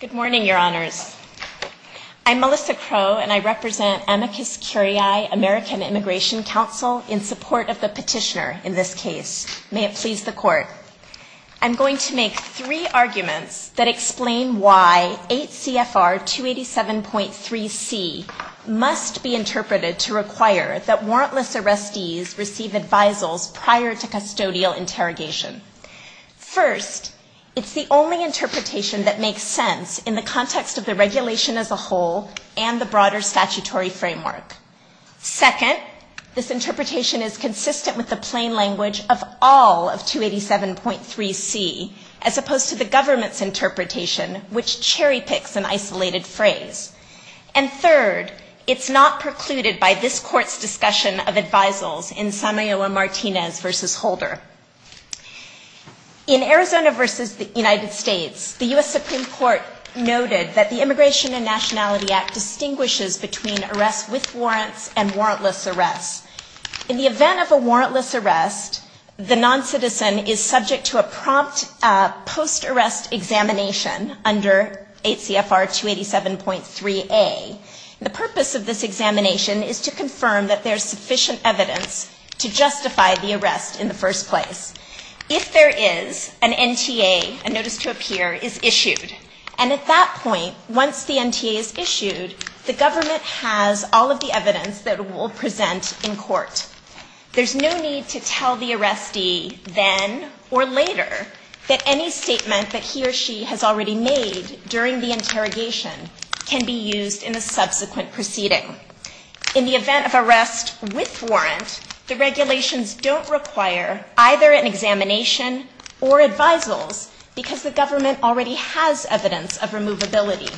Good morning, Your Honors. I'm Melissa Crowe, and I represent Amicus Curiae American Immigration Council in support of the petitioner in this case. May it please the Court. I'm going to make three arguments that explain why 8 CFR 287.3c must be interpreted to require that warrantless arrestees receive advisals prior to custodial interrogation. First, it's the only interpretation that makes sense in the context of the regulation as a whole and the broader statutory framework. Second, this interpretation is consistent with the plain language of all of 287.3c, as opposed to the government's interpretation, which cherry-picks an isolated phrase. And third, it's not precluded by this Court's discussion of advisals in Samayowa-Martinez v. Holder. In Arizona v. United States, the U.S. Supreme Court noted that the Immigration and Nationality Act distinguishes between arrests with warrants and warrantless arrests. In the event of a warrantless arrest, the noncitizen is subject to a prompt post-arrest examination under 8 CFR 287.3a. The purpose of this examination is to confirm that there's sufficient evidence to justify the arrest in the first place. If there is, an NTA, a notice to appear, is issued. And at that point, once the NTA is issued, the government has all of the evidence that it will present in court. There's no need to tell the arrestee then or later that any statement that he or she has already made during the interrogation can be used in a subsequent proceeding. In the event of arrest with warrant, the regulations don't require either an examination or advisals, because the government already has evidence of removability.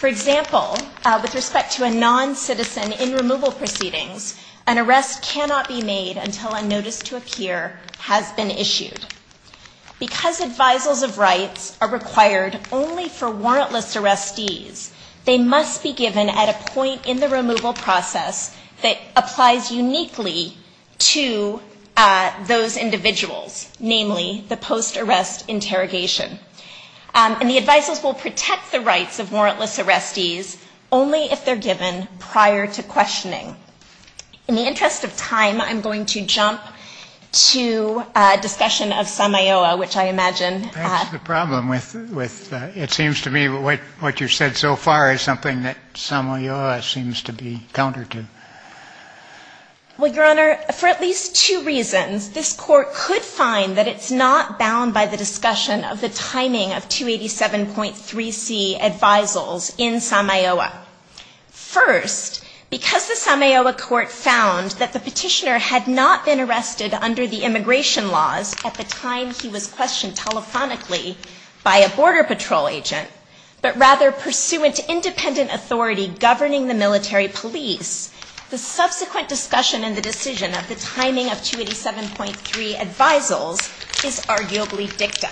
For example, with respect to a noncitizen in removal proceedings, an arrest cannot be made until a notice to appear has been issued. Because advisals of rights are required only for warrantless arrestees, they must be given at a point in the removal process that applies uniquely to those individuals, namely the post-arrest interrogation. And the advisers will protect the rights of warrantless arrestees only if they're given prior to questioning. In the interest of time, I'm going to jump to a discussion of SAMAOA, which I imagine... That's the problem with... It seems to me what you've said so far is something that SAMAOA seems to be counter to. Well, Your Honor, for at least two reasons, this Court could find that it's not bound by the discussion of the timing of 287.3c advisals in SAMAOA. First, because the SAMAOA Court found that the petitioner had not been arrested under the immigration laws at the time he was questioned telephonically by a Border Patrol agent, but rather pursuant to independent authority governing the military police, the subsequent discussion in the decision of the timing of 287.3 advisals is arguably dicta.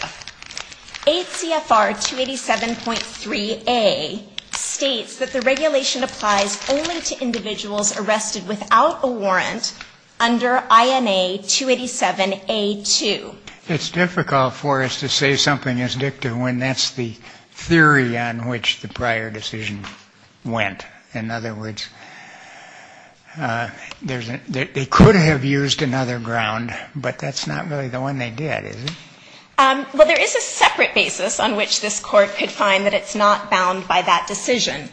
ACFR 287.3a states that the regulation applies only to individuals arrested without a warrant under INA 287a2. It's difficult for us to say something is dicta when that's the theory on which the prior decision went. In other words, they could have used another ground, but that's not really the one they did, is it? Well, there is a separate basis on which this Court could find that it's not bound by that decision.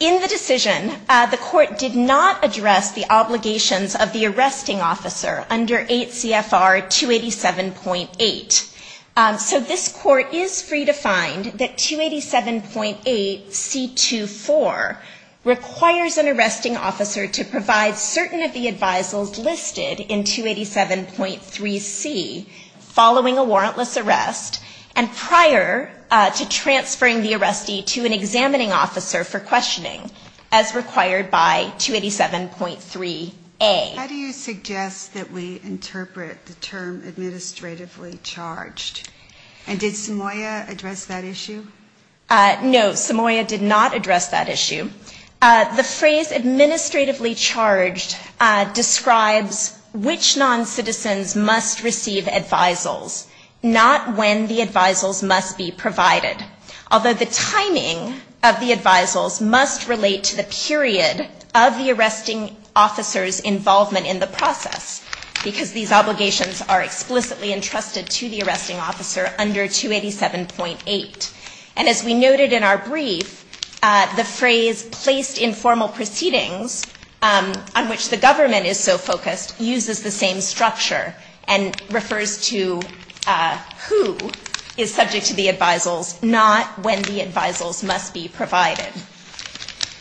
In the decision, the Court did not address the obligations of the arresting officer under ACFR 287.8. So this Court is free to find that 287.8c24 requires an arresting officer to provide certain of the advisals listed in 287.3a. And it's also free to find that 287.8c25 requires an arresting officer to provide certain of the advisals listed in 287.3bc following a warrantless arrest and prior to transferring the arrestee to an examining officer for questioning, as required by 287.3a. How do you suggest that we interpret the term administratively charged? And did Samoia address that issue? No, Samoia did not address that issue. The phrase administratively charged describes which noncitizens must receive advisals, not when the advisals must be provided. Although the timing of the advisals must relate to the period of the arresting officer's involvement in the process, because these obligations are explicitly entrusted to the arresting officer under 287.8. And as we noted in our brief, the phrase placed in formal proceedings, on which the government is so focused, uses the same structure, and refers to who is subject to the advisals, not when the advisals must be provided.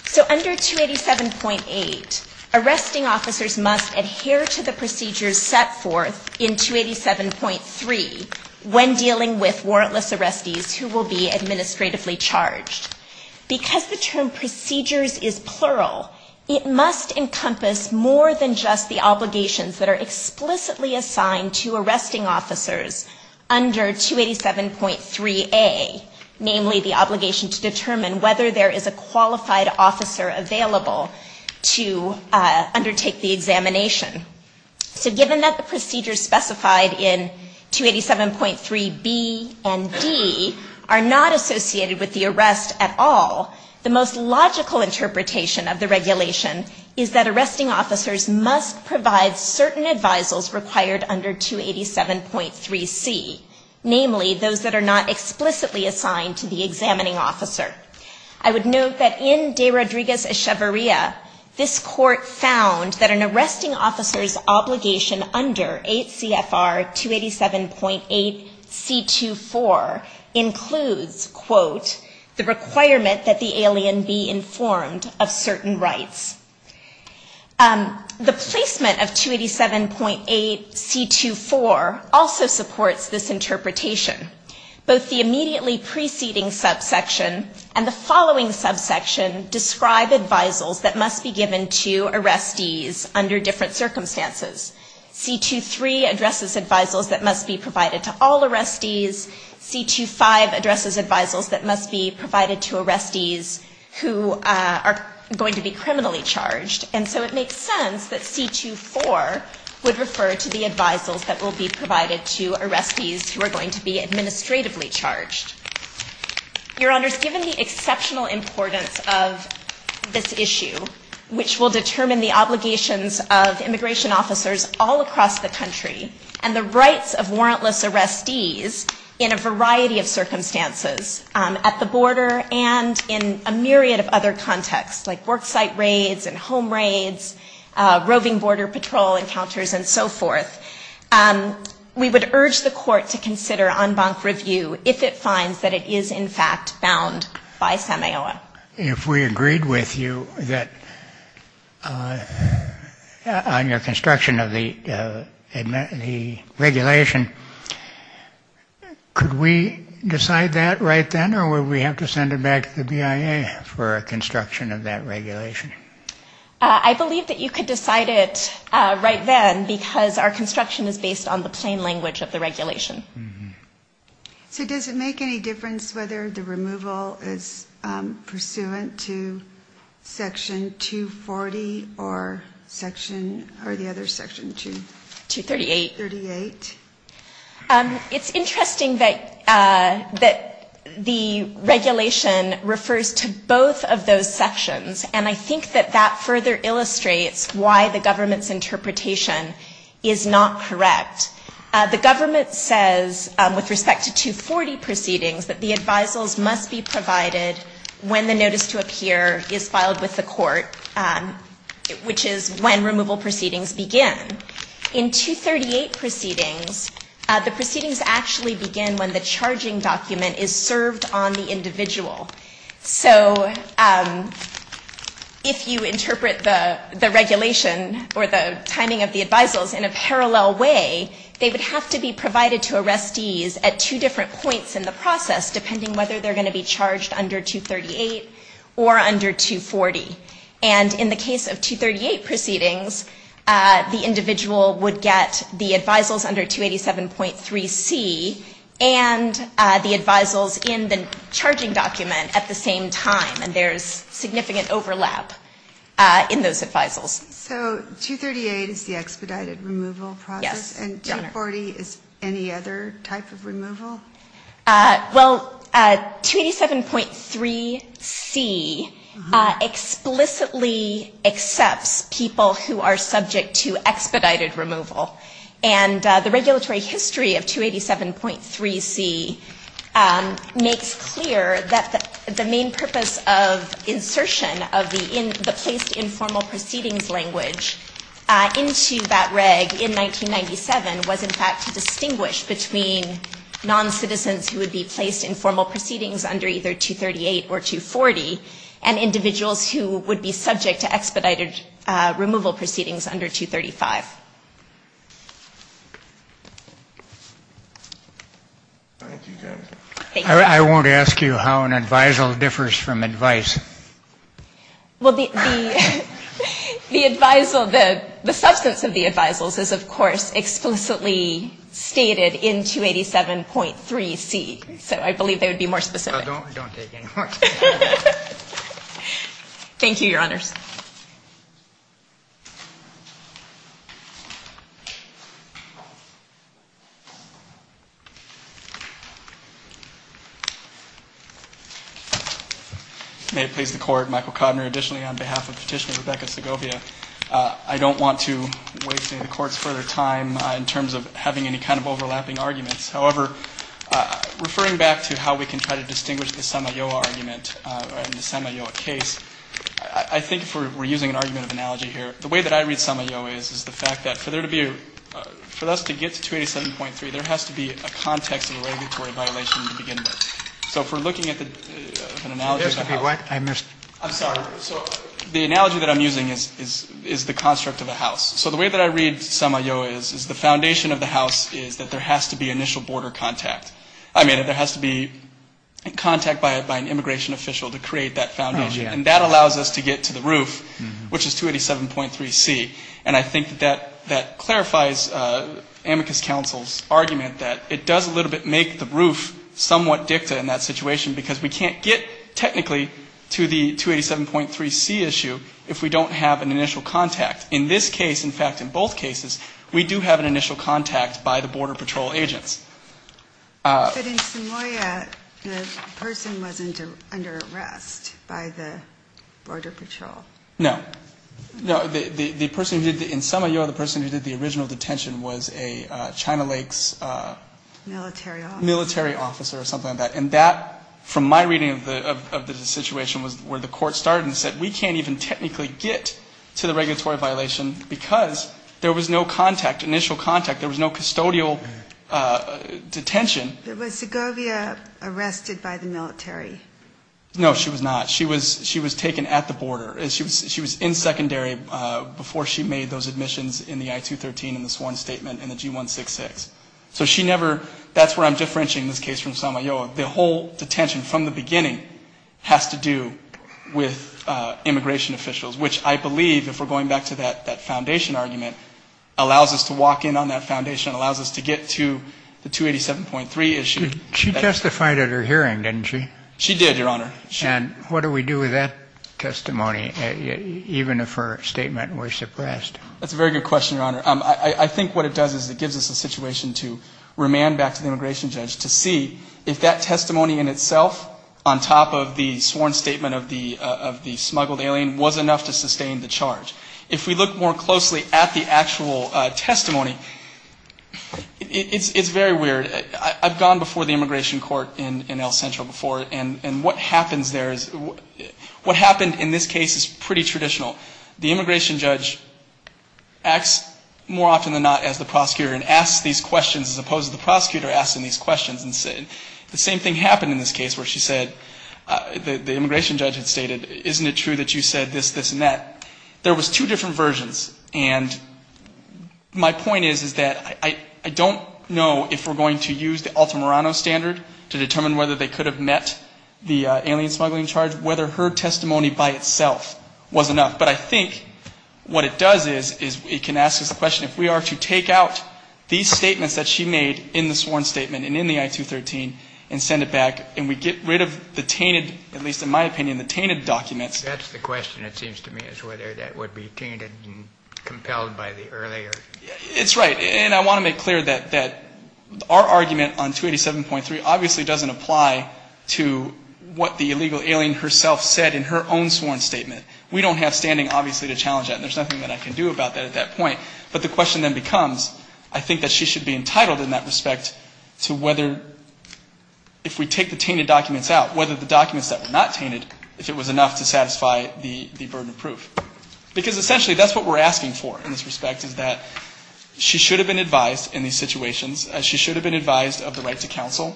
So under 287.8, arresting officers must adhere to the procedures set forth in 287.3 when dealing with warrantless arrestees who will be in custody. Because the term procedures is plural, it must encompass more than just the obligations that are explicitly assigned to arresting officers under 287.3a. Namely, the obligation to determine whether there is a qualified officer available to undertake the examination. So given that the procedures specified in 287.3b and d are not explicitly assigned to arresting officers under 287.3a, it must encompass more than just the obligations that are not associated with the arrest at all, the most logical interpretation of the regulation is that arresting officers must provide certain advisals required under 287.3c. Namely, those that are not explicitly assigned to the examining officer. I would note that in De Rodriguez-Echevarria, this court found that an arresting officer's obligation under 8 CFR 287.8c24 includes one of the following. The requirement that the alien be informed of certain rights. The placement of 287.8c24 also supports this interpretation. Both the immediately preceding subsection and the following subsection describe advisals that must be given to arrestees under different circumstances. C23 addresses advisals that must be provided to all arrestees. C25 addresses advisals that must be provided to arrestees who are going to be criminally charged. And so it makes sense that C24 would refer to the advisals that will be provided to arrestees who are going to be administratively charged. Your Honors, given the exceptional importance of this issue, which will determine the obligations of immigration officers all across the country, and the rights of warrantless arrestees in a variety of circumstances, at the border and in a myriad of other contexts, like worksite raids and home raids, roving border patrol encounters, and so forth, we would urge the court to consider en banc review if it finds that it is in fact bound by SMAOA. If we agreed with you that on your construction of the regulations, that it is in fact bound by SMAOA. Could we decide that right then, or would we have to send it back to the BIA for construction of that regulation? I believe that you could decide it right then, because our construction is based on the plain language of the regulation. So does it make any difference whether the removal is pursuant to Section 240 or Section, or the other section, 238? It's interesting that the regulation refers to both of those sections, and I think that that further illustrates why the government's interpretation is not correct. The government says, with respect to 240 proceedings, that the advisals must be provided when the notice to appear is filed with the court, which is when removal proceedings begin. In 238 proceedings, the proceedings actually begin when the charging document is served on the individual. So if you interpret the regulation or the timing of the advisals in a parallel way, they would have to be provided to arrestees at two different points in the process, depending whether they're going to be charged under 238 or under 240. And in the case of 238 proceedings, the individual would get the advisals under 287.3c and the advisals in the charging document at the same time. And there's significant overlap in those advisals. So 238 is the expedited removal process, and 240 is any other type of removal? Well, 287.3c explicitly accepts people who are subject to expedited removal. And the regulatory history of 287.3c makes clear that the main purpose of insertion of the placed informal proceedings language into that reg in 1997 was, in fact, to distinguish between noncitizens who would be placed in formal proceedings under either 238 or 240 and individuals who would be subject to expedited removal proceedings under 235. I won't ask you how an advisal differs from advice. Well, the advisal, the substance of the advisals is, of course, explicitly stated in the 287.3c, so I believe they would be more specific. Thank you, Your Honors. May it please the Court, Michael Kodner, additionally on behalf of Petitioner Rebecca Segovia. I don't want to waste any of the Court's further time in terms of having any kind of overlapping arguments. However, referring back to how we can try to distinguish the Samayoa argument in the Samayoa case, I think if we're using an argument of analogy here, the way that I read Samayoa is, is the fact that for there to be a, for us to get to 287.3, there has to be a context of a regulatory violation to begin with. So if we're looking at an analogy of a house. The analogy that I'm using is the construct of a house. So the way that I read Samayoa is, is the foundation of the house is that there has to be initial border contact. I mean, there has to be contact by an immigration official to create that foundation. And that allows us to get to the roof, which is 287.3c. And I think that that clarifies Amicus Counsel's argument that it does a little bit make the roof somewhat dicta in that situation, because we can't get technically to the 287.3c issue if we don't have an initial contact. In this case, in fact, in both cases, we do have an initial contact by the Border Patrol agents. But in Samayoa, the person wasn't under arrest by the Border Patrol? No. In Samayoa, the person who did the original detention was a China Lakes military officer or something like that. And that, from my reading of the situation, was where the court started and said, we can't even technically get to the regulatory violation because there was no contact, initial contact. There was no custodial detention. Was Segovia arrested by the military? No, she was not. She was taken at the border. She was in secondary before she made those admissions in the I-213 and the sworn statement and the G-166. So she never, that's where I'm differentiating this case from Samayoa. The whole detention from the beginning has to do with immigration officials, which I believe, if we're going back to that foundation argument, allows us to walk in on that foundation, allows us to get to the 287.3 issue. She testified at her hearing, didn't she? She did, Your Honor. And what do we do with that testimony, even if her statement was suppressed? That's a very good question, Your Honor. I think what it does is it gives us a situation to remand back to the immigration judge to see if that testimony in itself, on top of the sworn statement of the smuggled alien, was enough to sustain the charge. If we look more closely at the actual testimony, it's very weird. I've gone before the immigration court in El Centro before, and what happens there is, what happened in this case is pretty traditional. The immigration judge acts more often than not as the prosecutor and asks these questions as opposed to the prosecutor asking these questions. The same thing happened in this case where she said, the immigration judge had stated, isn't it true that you said this, this, and that? There was two different versions. And my point is, is that I don't know if we're going to use the Altamirano standard to determine whether they could have met the alien smuggling charge, whether her testimony by itself was enough. But I think what it does is it can ask us the question, if we are to take out these statements that she made in the sworn statement and in the I-213 and send it back and we get rid of the tainted, at least in my opinion, the tainted documents. That's the question, it seems to me, is whether that would be tainted and compelled by the earlier. It's right, and I want to make clear that our argument on 287.3 obviously doesn't apply to what the illegal alien herself said in her own sworn statement. We don't have standing, obviously, to challenge that, and there's nothing that I can do about that at that point. But the question then becomes, I think that she should be entitled in that respect to whether, if we take the tainted documents out, whether the tainted documents would satisfy the burden of proof. Because essentially that's what we're asking for in this respect, is that she should have been advised in these situations, she should have been advised of the right to counsel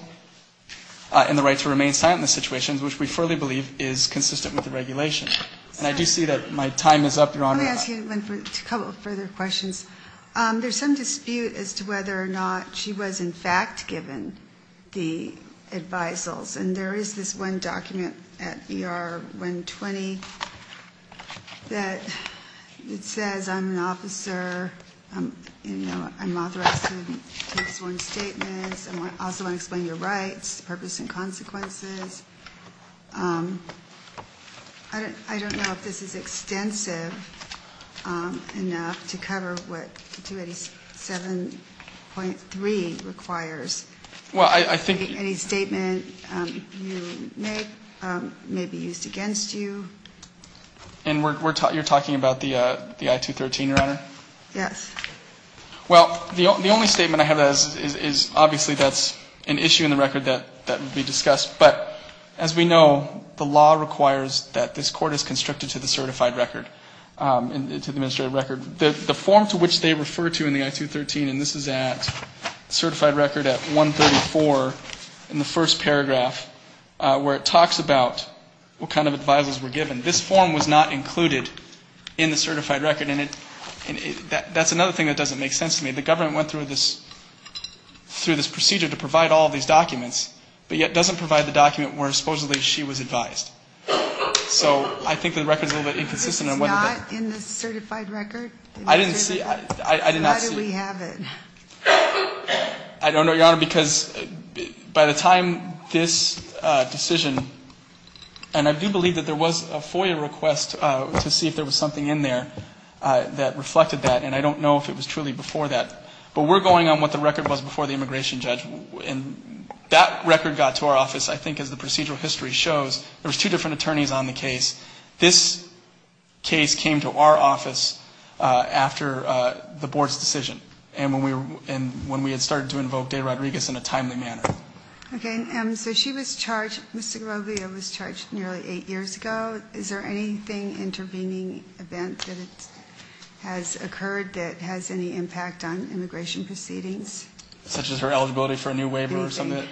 and the right to remain silent in the situations, which we firmly believe is consistent with the regulations. And I do see that my time is up, Your Honor. I'm going to ask you a couple of further questions. There's some dispute as to whether or not she was in fact given the advisals. I see that it says I'm an officer. I'm authorized to make sworn statements. I also want to explain your rights, purpose and consequences. I don't know if this is extensive enough to cover what 287.3 requires. Any statement you make may be used against you. And you're talking about the I-213, Your Honor? Yes. Well, the only statement I have is obviously that's an issue in the record that would be discussed. But as we know, the law requires that this court is constricted to the certified record, to the administrative record. The form to which they refer to in the I-213, and this is at certified record at 134 in the first paragraph, where it talks about what kind of advisals were given. This form was not included in the certified record. And that's another thing that doesn't make sense to me. The government went through this procedure to provide all of these documents, but yet doesn't provide the document where supposedly she was advised. So I think the record is a little bit inconsistent. It's not in the certified record? I did not see it. How do we have it? I don't know, Your Honor, because by the time this decision, and I do believe that there was a FOIA request to see if there was something in there that reflected that, and I don't know if it was truly before that. But there were two different attorneys on the case. This case came to our office after the board's decision, and when we had started to invoke De Rodriguez in a timely manner. Okay, so she was charged, Mr. Garrovia was charged nearly eight years ago. Is there anything intervening event that has occurred that has any impact on immigration proceedings? Such as her eligibility for a new waiver or something?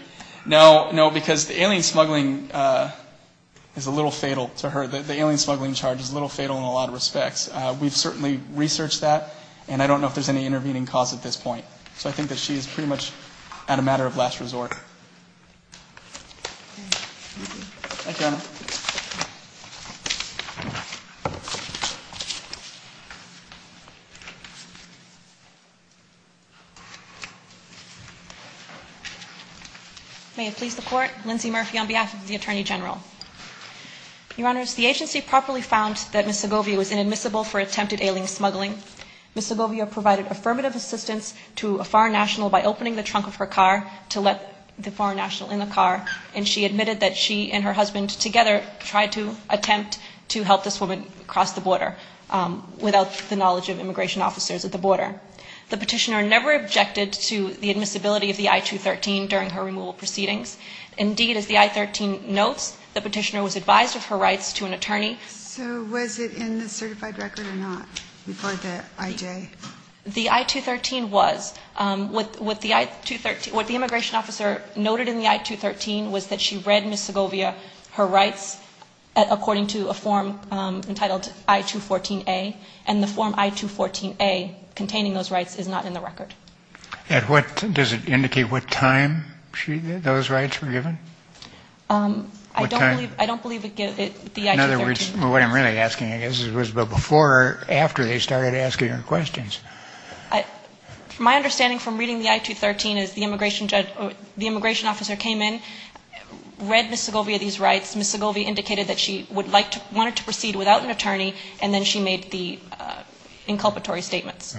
That is a little fatal to her. The alien smuggling charge is a little fatal in a lot of respects. We've certainly researched that, and I don't know if there's any intervening cause at this point. So I think that she is pretty much at a matter of last resort. Thank you, Your Honor. Your Honors, the agency properly found that Ms. Garrovia was inadmissible for attempted alien smuggling. Ms. Garrovia provided affirmative assistance to a foreign national by opening the trunk of her car to let the foreign national in the car, and she admitted that she and her husband together tried to attempt to help this woman cross the border without the knowledge of immigration officers at the border. The petitioner never objected to the admissibility of the I-213 during her removal proceedings. Indeed, as the I-13 notes, the petitioner was advised of her rights to an attorney. So was it in the certified record or not before the IJ? The I-213 was. What the immigration officer noted in the I-213 was that she read Ms. Garrovia her rights according to a form entitled I-214A, and the form I-214A containing those rights is not in the record. Does it indicate what time those rights were given? I don't believe the I-213. In other words, what I'm really asking, I guess, is before or after they started asking her questions. My understanding from reading the I-213 is the immigration officer came in, read Ms. Garrovia these rights, Ms. Garrovia indicated that she wanted to proceed without an attorney, and then she made the inculpatory statements.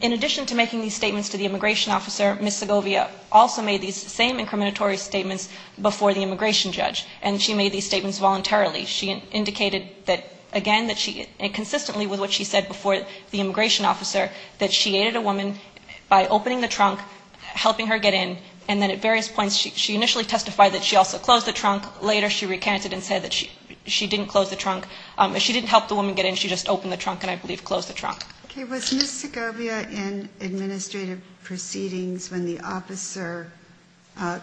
In addition to making these statements to the immigration officer, Ms. Garrovia also made these same incriminatory statements before the immigration judge, and she made these statements voluntarily. She indicated that, again, that she, and consistently with what she said before the immigration officer, that she aided a woman by opening the trunk, helping her get in, and then at various points she initially testified that she also closed the trunk. Later she recanted and said that she didn't close the trunk. She didn't help the woman get in. She just opened the trunk, and I believe closed the trunk. Okay. Was Ms. Garrovia in administrative proceedings when the officer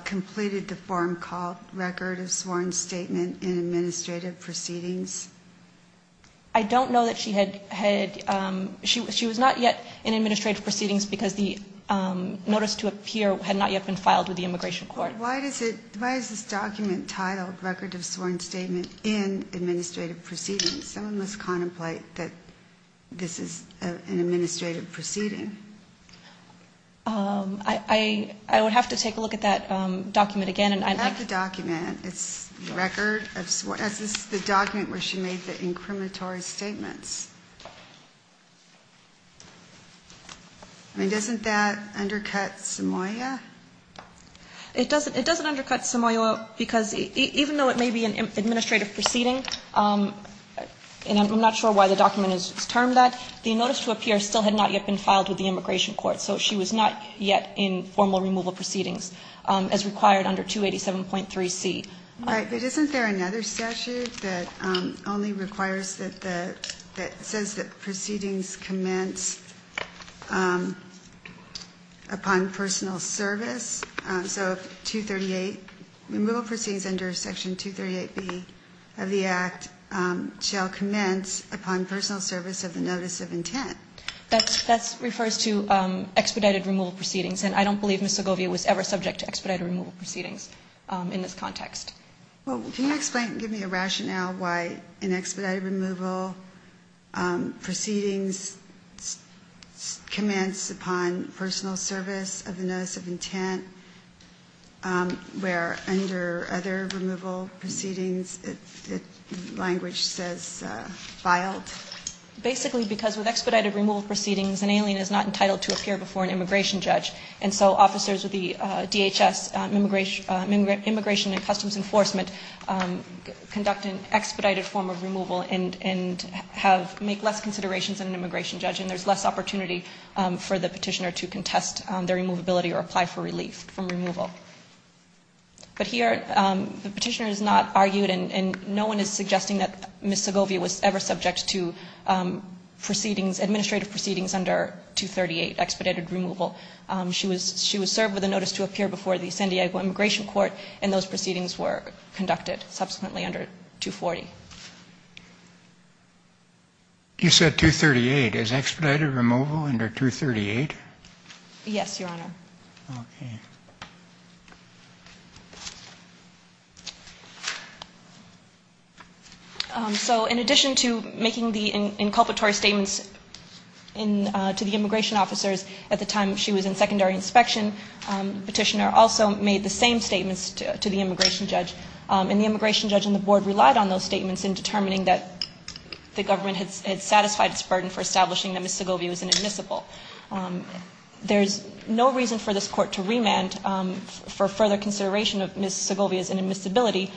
completed the form called record of sworn statement in administrative proceedings? I don't know that she had, she was not yet in administrative proceedings because the notice to appear had not yet been filed with the immigration court. Why is this document titled record of sworn statement in administrative proceedings? Someone must contemplate that this is an administrative proceeding. I would have to take a look at that document again. I have the document. It's the document where she made the incriminatory statements. I mean, doesn't that undercut Samoia? It doesn't undercut Samoia because even though it may be an administrative proceeding, and I'm not sure why the document is termed that, the notice to appear still had not yet been filed with the immigration court, so she was not yet in formal removal proceedings as required under 287.3C. All right, but isn't there another statute that only requires that the, that says that proceedings commence upon personal service? So 238, removal proceedings under Section 238B of the Act shall commence upon personal service of the notice of intent. That's, that's, refers to expedited removal proceedings, and I don't believe Ms. Segovia was ever subject to expedited removal proceedings in this context. Well, can you explain, give me a rationale why in expedited removal proceedings commence upon personal service of the notice of intent, where under other removal proceedings the language says filed? Basically because with expedited removal proceedings, an alien is not entitled to appear before an immigration judge, and so officers with the DHS Immigration and Customs Enforcement conduct an expedited form of removal and have, make less considerations than an immigration judge, and there's less opportunity for the petitioner to contest their removability or apply for relief from removal. But here the petitioner has not argued, and no one is suggesting that Ms. Segovia was ever subject to proceedings, administrative proceedings under 238, expedited removal. She was, she was served with a notice to appear before the San Diego Immigration Court, and those proceedings were conducted subsequently under 240. You said 238. Is expedited removal under 238? Yes, Your Honor. Okay. So in addition to making the inculpatory statements to the immigration officers at the time she was in secondary inspection, the petitioner also made the same statements to the immigration judge, and the immigration judge and the board relied on those statements in determining that the government had satisfied its burden for establishing that Ms. Segovia was inadmissible. There's no reason for this Court to remand for further consideration of Ms. Segovia's inadmissibility,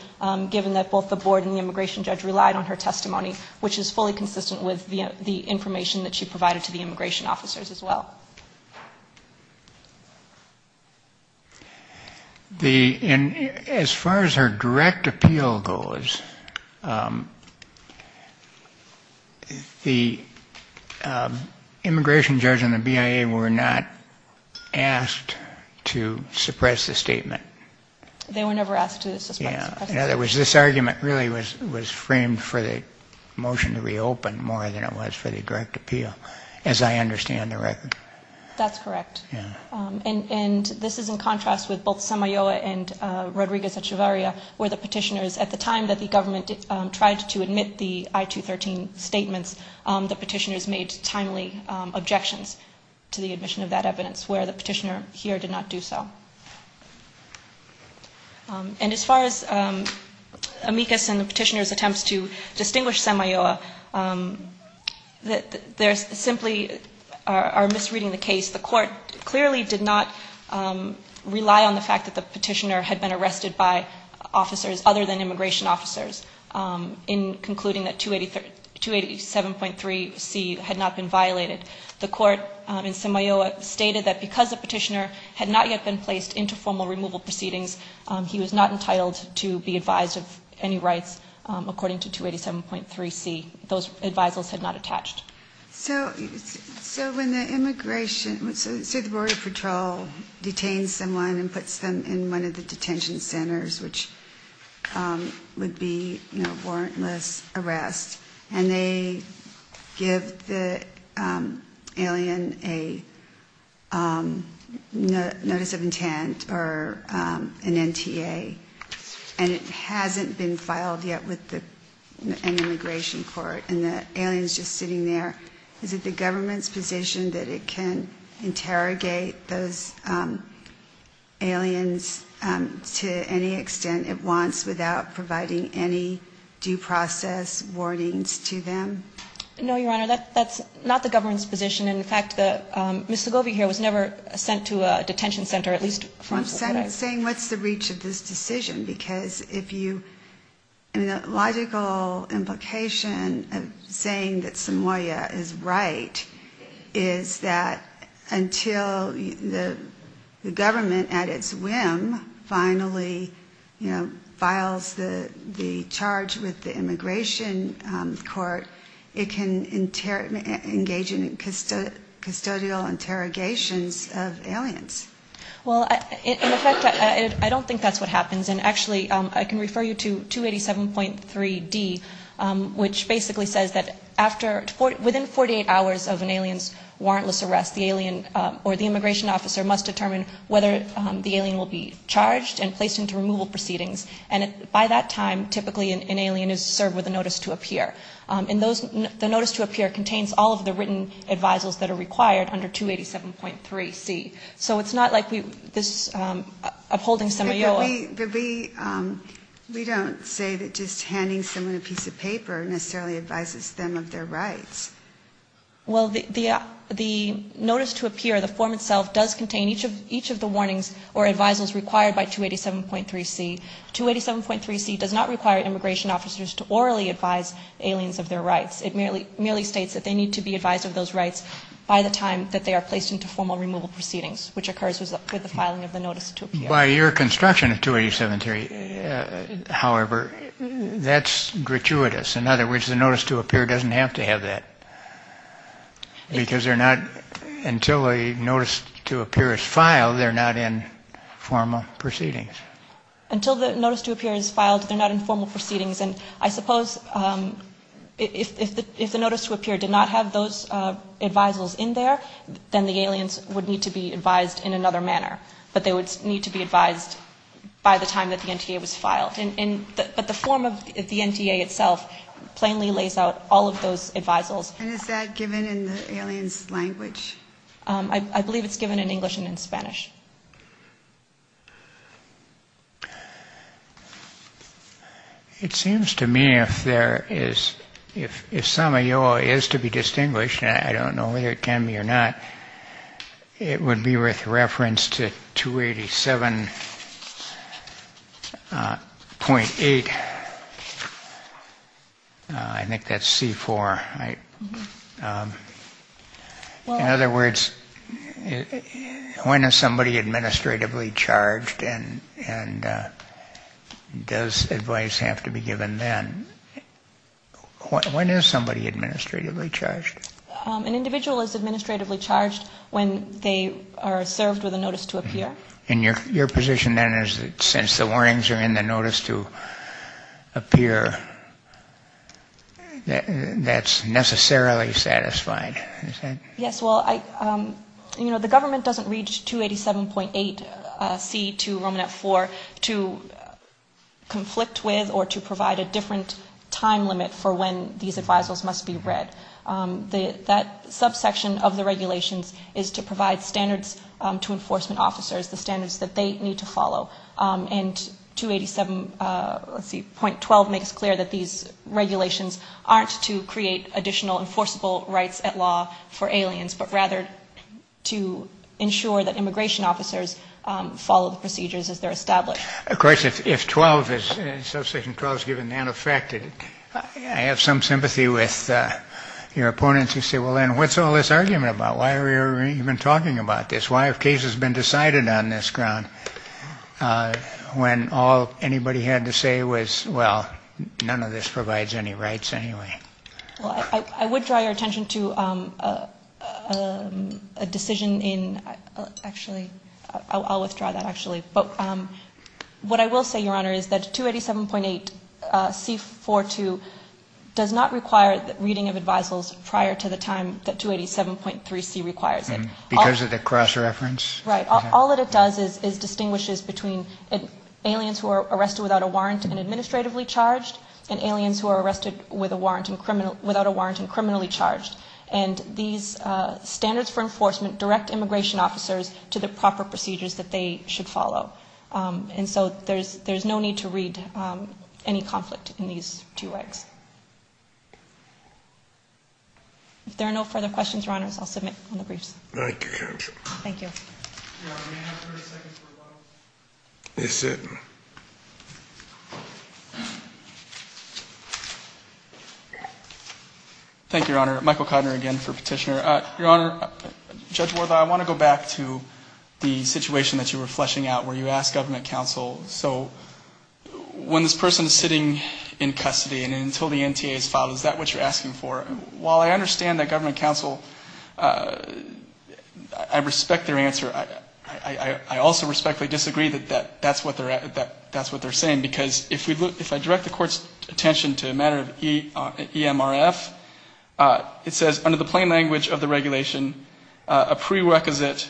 given that both the board and the immigration judge relied on her testimony, which is fully consistent with the information that she provided to the immigration officers as well. The, as far as her direct appeal goes, the immigration judge and the board relied on her testimony because the petitioners and the BIA were not asked to suppress the statement. They were never asked to suppress the statement. In other words, this argument really was framed for the motion to reopen more than it was for the direct appeal, as I understand the record. That's correct. And this is in contrast with both Samayoa and Rodriguez Echevarria, where the petitioners, at the time that the government tried to admit the I-213 statements, the petitioners made timely objections to the admission of that evidence, where the petitioner here did not do so. And as far as Amicus and the petitioners' attempts to distinguish Samayoa, they simply are misreading the court clearly did not rely on the fact that the petitioner had been arrested by officers other than immigration officers in concluding that 287.3C had not been violated. The court in Samayoa stated that because the petitioner had not yet been placed into formal removal proceedings, he was not entitled to be advised of any rights according to 287.3C. Those advisals had not attached. So when the immigration, say the border patrol detains someone and puts them in one of the detention centers, which would be warrantless arrest, and they give the alien a notice of intent or an NTA, and it hasn't been reported to the court and the alien is just sitting there, is it the government's position that it can interrogate those aliens to any extent it wants without providing any due process warnings to them? No, Your Honor, that's not the government's position. And in fact, Ms. Segovia here was never sent to a detention center, at least from... saying what's the reach of this decision, because if you... I mean, the logical implication of saying that Samayoa is right is that until the government at its whim finally, you know, files the charge with the immigration court, it can engage in custodial interrogations of aliens. Well, in effect, I don't think that's what happens. And actually, I can refer you to 287.3D, which basically says that after... within 48 hours of an alien's warrantless arrest, the alien or the immigration officer must determine whether the alien will be charged and placed into removal proceedings. And by that time, typically an alien is served with a notice to appear. And those... the notice to appear contains all of the written advisals that are required under 287.3C. So it's not like we... this upholding Samayoa... But we don't say that just handing someone a piece of paper necessarily advises them of their rights. Well, the notice to appear, the form itself, does contain each of the warnings or advisals required by 287.3C. 287.3C does not require immigration officers to orally advise aliens of their rights. It merely states that they need to be advised of those rights by the time that they are placed into formal removal proceedings, which occurs with the filing of the notice to appear. By your construction of 287.3, however, that's gratuitous. In other words, the notice to appear doesn't have to have that. Because they're not... until a notice to appear is filed, they're not in formal proceedings. Until the notice to appear is filed, they're not in formal proceedings. And I suppose if the notice to appear did not have those advisals in there, then the aliens would need to be advised in another manner. But they would need to be advised by the time that the NTA was filed. But the form of the NTA itself plainly lays out all of those advisals. And is that given in the aliens' language? I believe it's given in English and in Spanish. It seems to me if there is... if Samayoa is to be distinguished, and I don't know whether it can be or not, it would be with reference to 287.8. I think that's C4. In other words, when is somebody administratively charged and does advice have to be given then? When is somebody administratively charged? An individual is administratively charged when they are served with a notice to appear. And your position then is that since the warnings are in the notice to appear, that's necessarily satisfied, is that... Yes, well, you know, the government doesn't read 287.8C to Romanet 4 to conflict with or to provide a different time limit for when these advisals must be read. That subsection of the regulations is to provide standards to enforcement officers, the standards that they need to follow. And 287.12 makes clear that these regulations aren't to create additional enforceable rights at law for aliens, but rather to ensure that immigration officers follow the procedures as they're established. Of course, if 12, if subsection 12 is given, that affected... I have some sympathy with your opponents who say, well, then, what's all this argument about? Why are we even talking about this? Why have cases been decided on this ground when all anybody had to say was, well, none of this provides any rights anyway? Well, I would draw your attention to a decision in... Actually, I'll withdraw that, actually. But what I will say, Your Honor, is that 287.8C42 does not require reading of advisals prior to the time that 287.3C requires it. Because of the cross-reference? Right. All that it does is distinguishes between aliens who are arrested without a warrant and administratively charged and aliens who are arrested without a warrant and criminally charged. And these standards for enforcement direct immigration officers to the proper procedures that they should follow. And so there's no need to read any conflict in these two regs. If there are no further questions, Your Honors, I'll submit on the briefs. Thank you, Counsel. Yes, sir. Thank you, Your Honor. Michael Cotner again for Petitioner. Your Honor, Judge Wortha, I want to go back to the situation that you were fleshing out where you asked government counsel, so when this person is sitting in custody and until the NTA is filed, is that what you're asking for? While I understand that government counsel, I respect their answer, I also respectfully disagree that that's what they're saying. Because if I direct the court's attention to a matter of EMRF, it says under the plain language of the regulation, a prerequisite,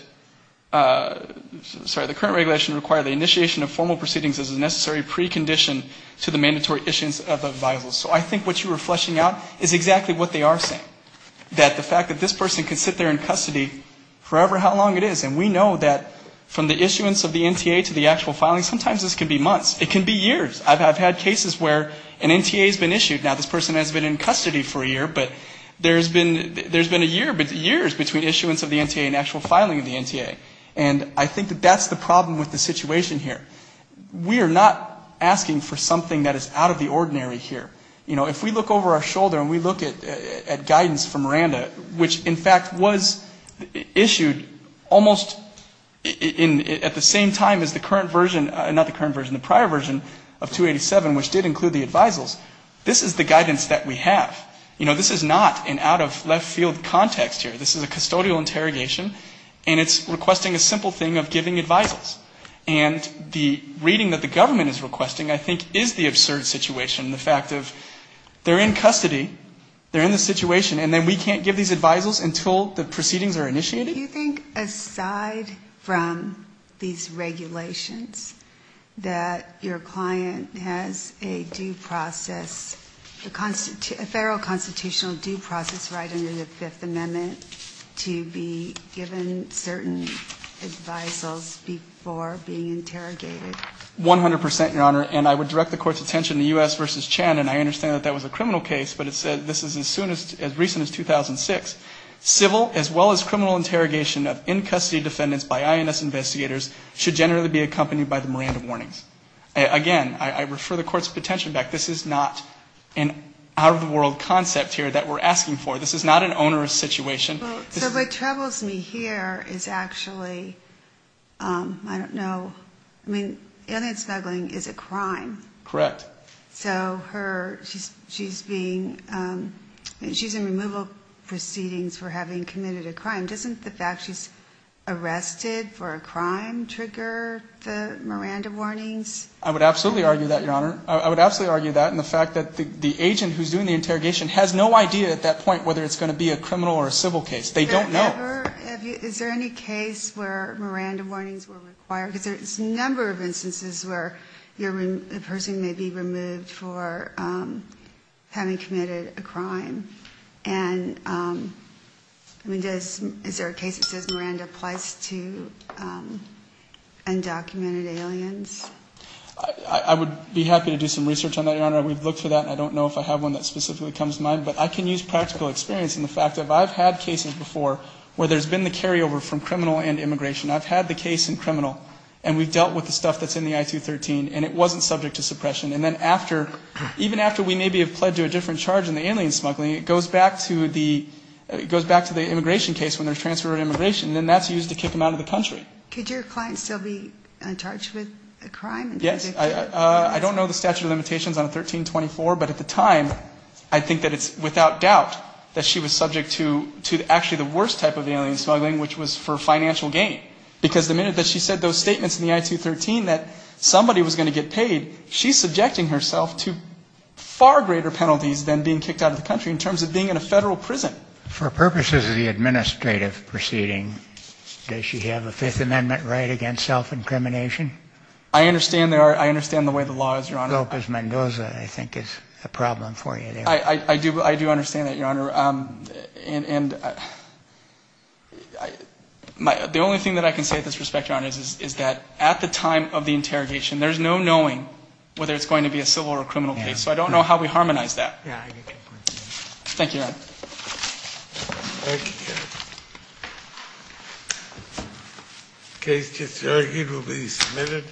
sorry, the current regulation require the initiation of formal proceedings as a necessary precondition to the mandatory issuance of a visa. So I think what you were fleshing out is exactly what they are saying. That the fact that this person can sit there in custody forever, how long it is, and we know that from the issuance of the NTA to the actual filing, sometimes this can be months. It can be years. I've had cases where an NTA has been issued, now this person has been in custody for a year, but there's been a year, years between issuance of the NTA and actual filing of the NTA. And I think that that's the problem with the situation here. We are not asking for something that is out of the ordinary here. You know, if we look over our shoulder and we look at guidance from Miranda, which in fact was issued almost in, at the same time as the current version, not the current version, the prior version of 287, which did include the advisals, this is the guidance that we have. You know, this is not an out-of-left-field context here. This is a custodial interrogation, and it's requesting a simple thing of giving advisals. And the reading that the government is requesting, I think, is the absurd situation, the fact of they're in custody, they're in the situation, and then we can't give these advisals until the proceedings are initiated? Do you think, aside from these regulations, that your client has a due process, a federal constitution, a constitutional due process right under the Fifth Amendment to be given certain advisals before being interrogated? One hundred percent, Your Honor, and I would direct the Court's attention to U.S. v. Chan, and I understand that that was a criminal case, but it said, this is as soon as, as recent as 2006, civil as well as criminal interrogation of in-custody defendants by INS investigators should generally be accompanied by the Miranda warnings. Again, I refer the Court's attention back. This is not an out-of-the-world concept here that we're asking for. This is not an onerous situation. So what troubles me here is actually, I don't know, I mean, alien smuggling is a crime. Correct. So her, she's being, she's in removal proceedings for having committed a crime. Doesn't the fact she's arrested for a crime trigger the issue, Your Honor? I would absolutely argue that, and the fact that the agent who's doing the interrogation has no idea at that point whether it's going to be a criminal or a civil case. They don't know. Is there any case where Miranda warnings were required? Because there's a number of instances where a person may be removed for having committed a crime, and I mean, is there a case that says Miranda applies to undocumented aliens? I would be happy to do some research on that, Your Honor. We've looked for that, and I don't know if I have one that specifically comes to mind. But I can use practical experience in the fact that I've had cases before where there's been the carryover from criminal and immigration. I've had the case in criminal, and we've dealt with the stuff that's in the I-213, and it wasn't subject to suppression. And then after, even after we maybe have pled to a different charge in the alien smuggling, it goes back to the, it goes back to the immigration case when there's transfer of immigration, and that's used to kick them out of the country. Could your client still be in charge with a crime? Yes. I don't know the statute of limitations on a 1324, but at the time, I think that it's without doubt that she was subject to actually the worst type of alien smuggling, which was for financial gain. Because the minute that she said those statements in the I-213 that somebody was going to get paid, she's subjecting herself to far greater penalties than being kicked out of the country in terms of being in a Federal prison. For purposes of the administrative proceeding, does she have a Fifth Amendment right against self-incrimination? I understand there are, I understand the way the law is, Your Honor. Lopez Mendoza, I think, is a problem for you there. I do, I do understand that, Your Honor. And the only thing that I can say at this respect, Your Honor, is that at the time of the interrogation, there's no knowing whether it's going to be a civil or a criminal case. So I don't know how we harmonize that. Thank you, Your Honor.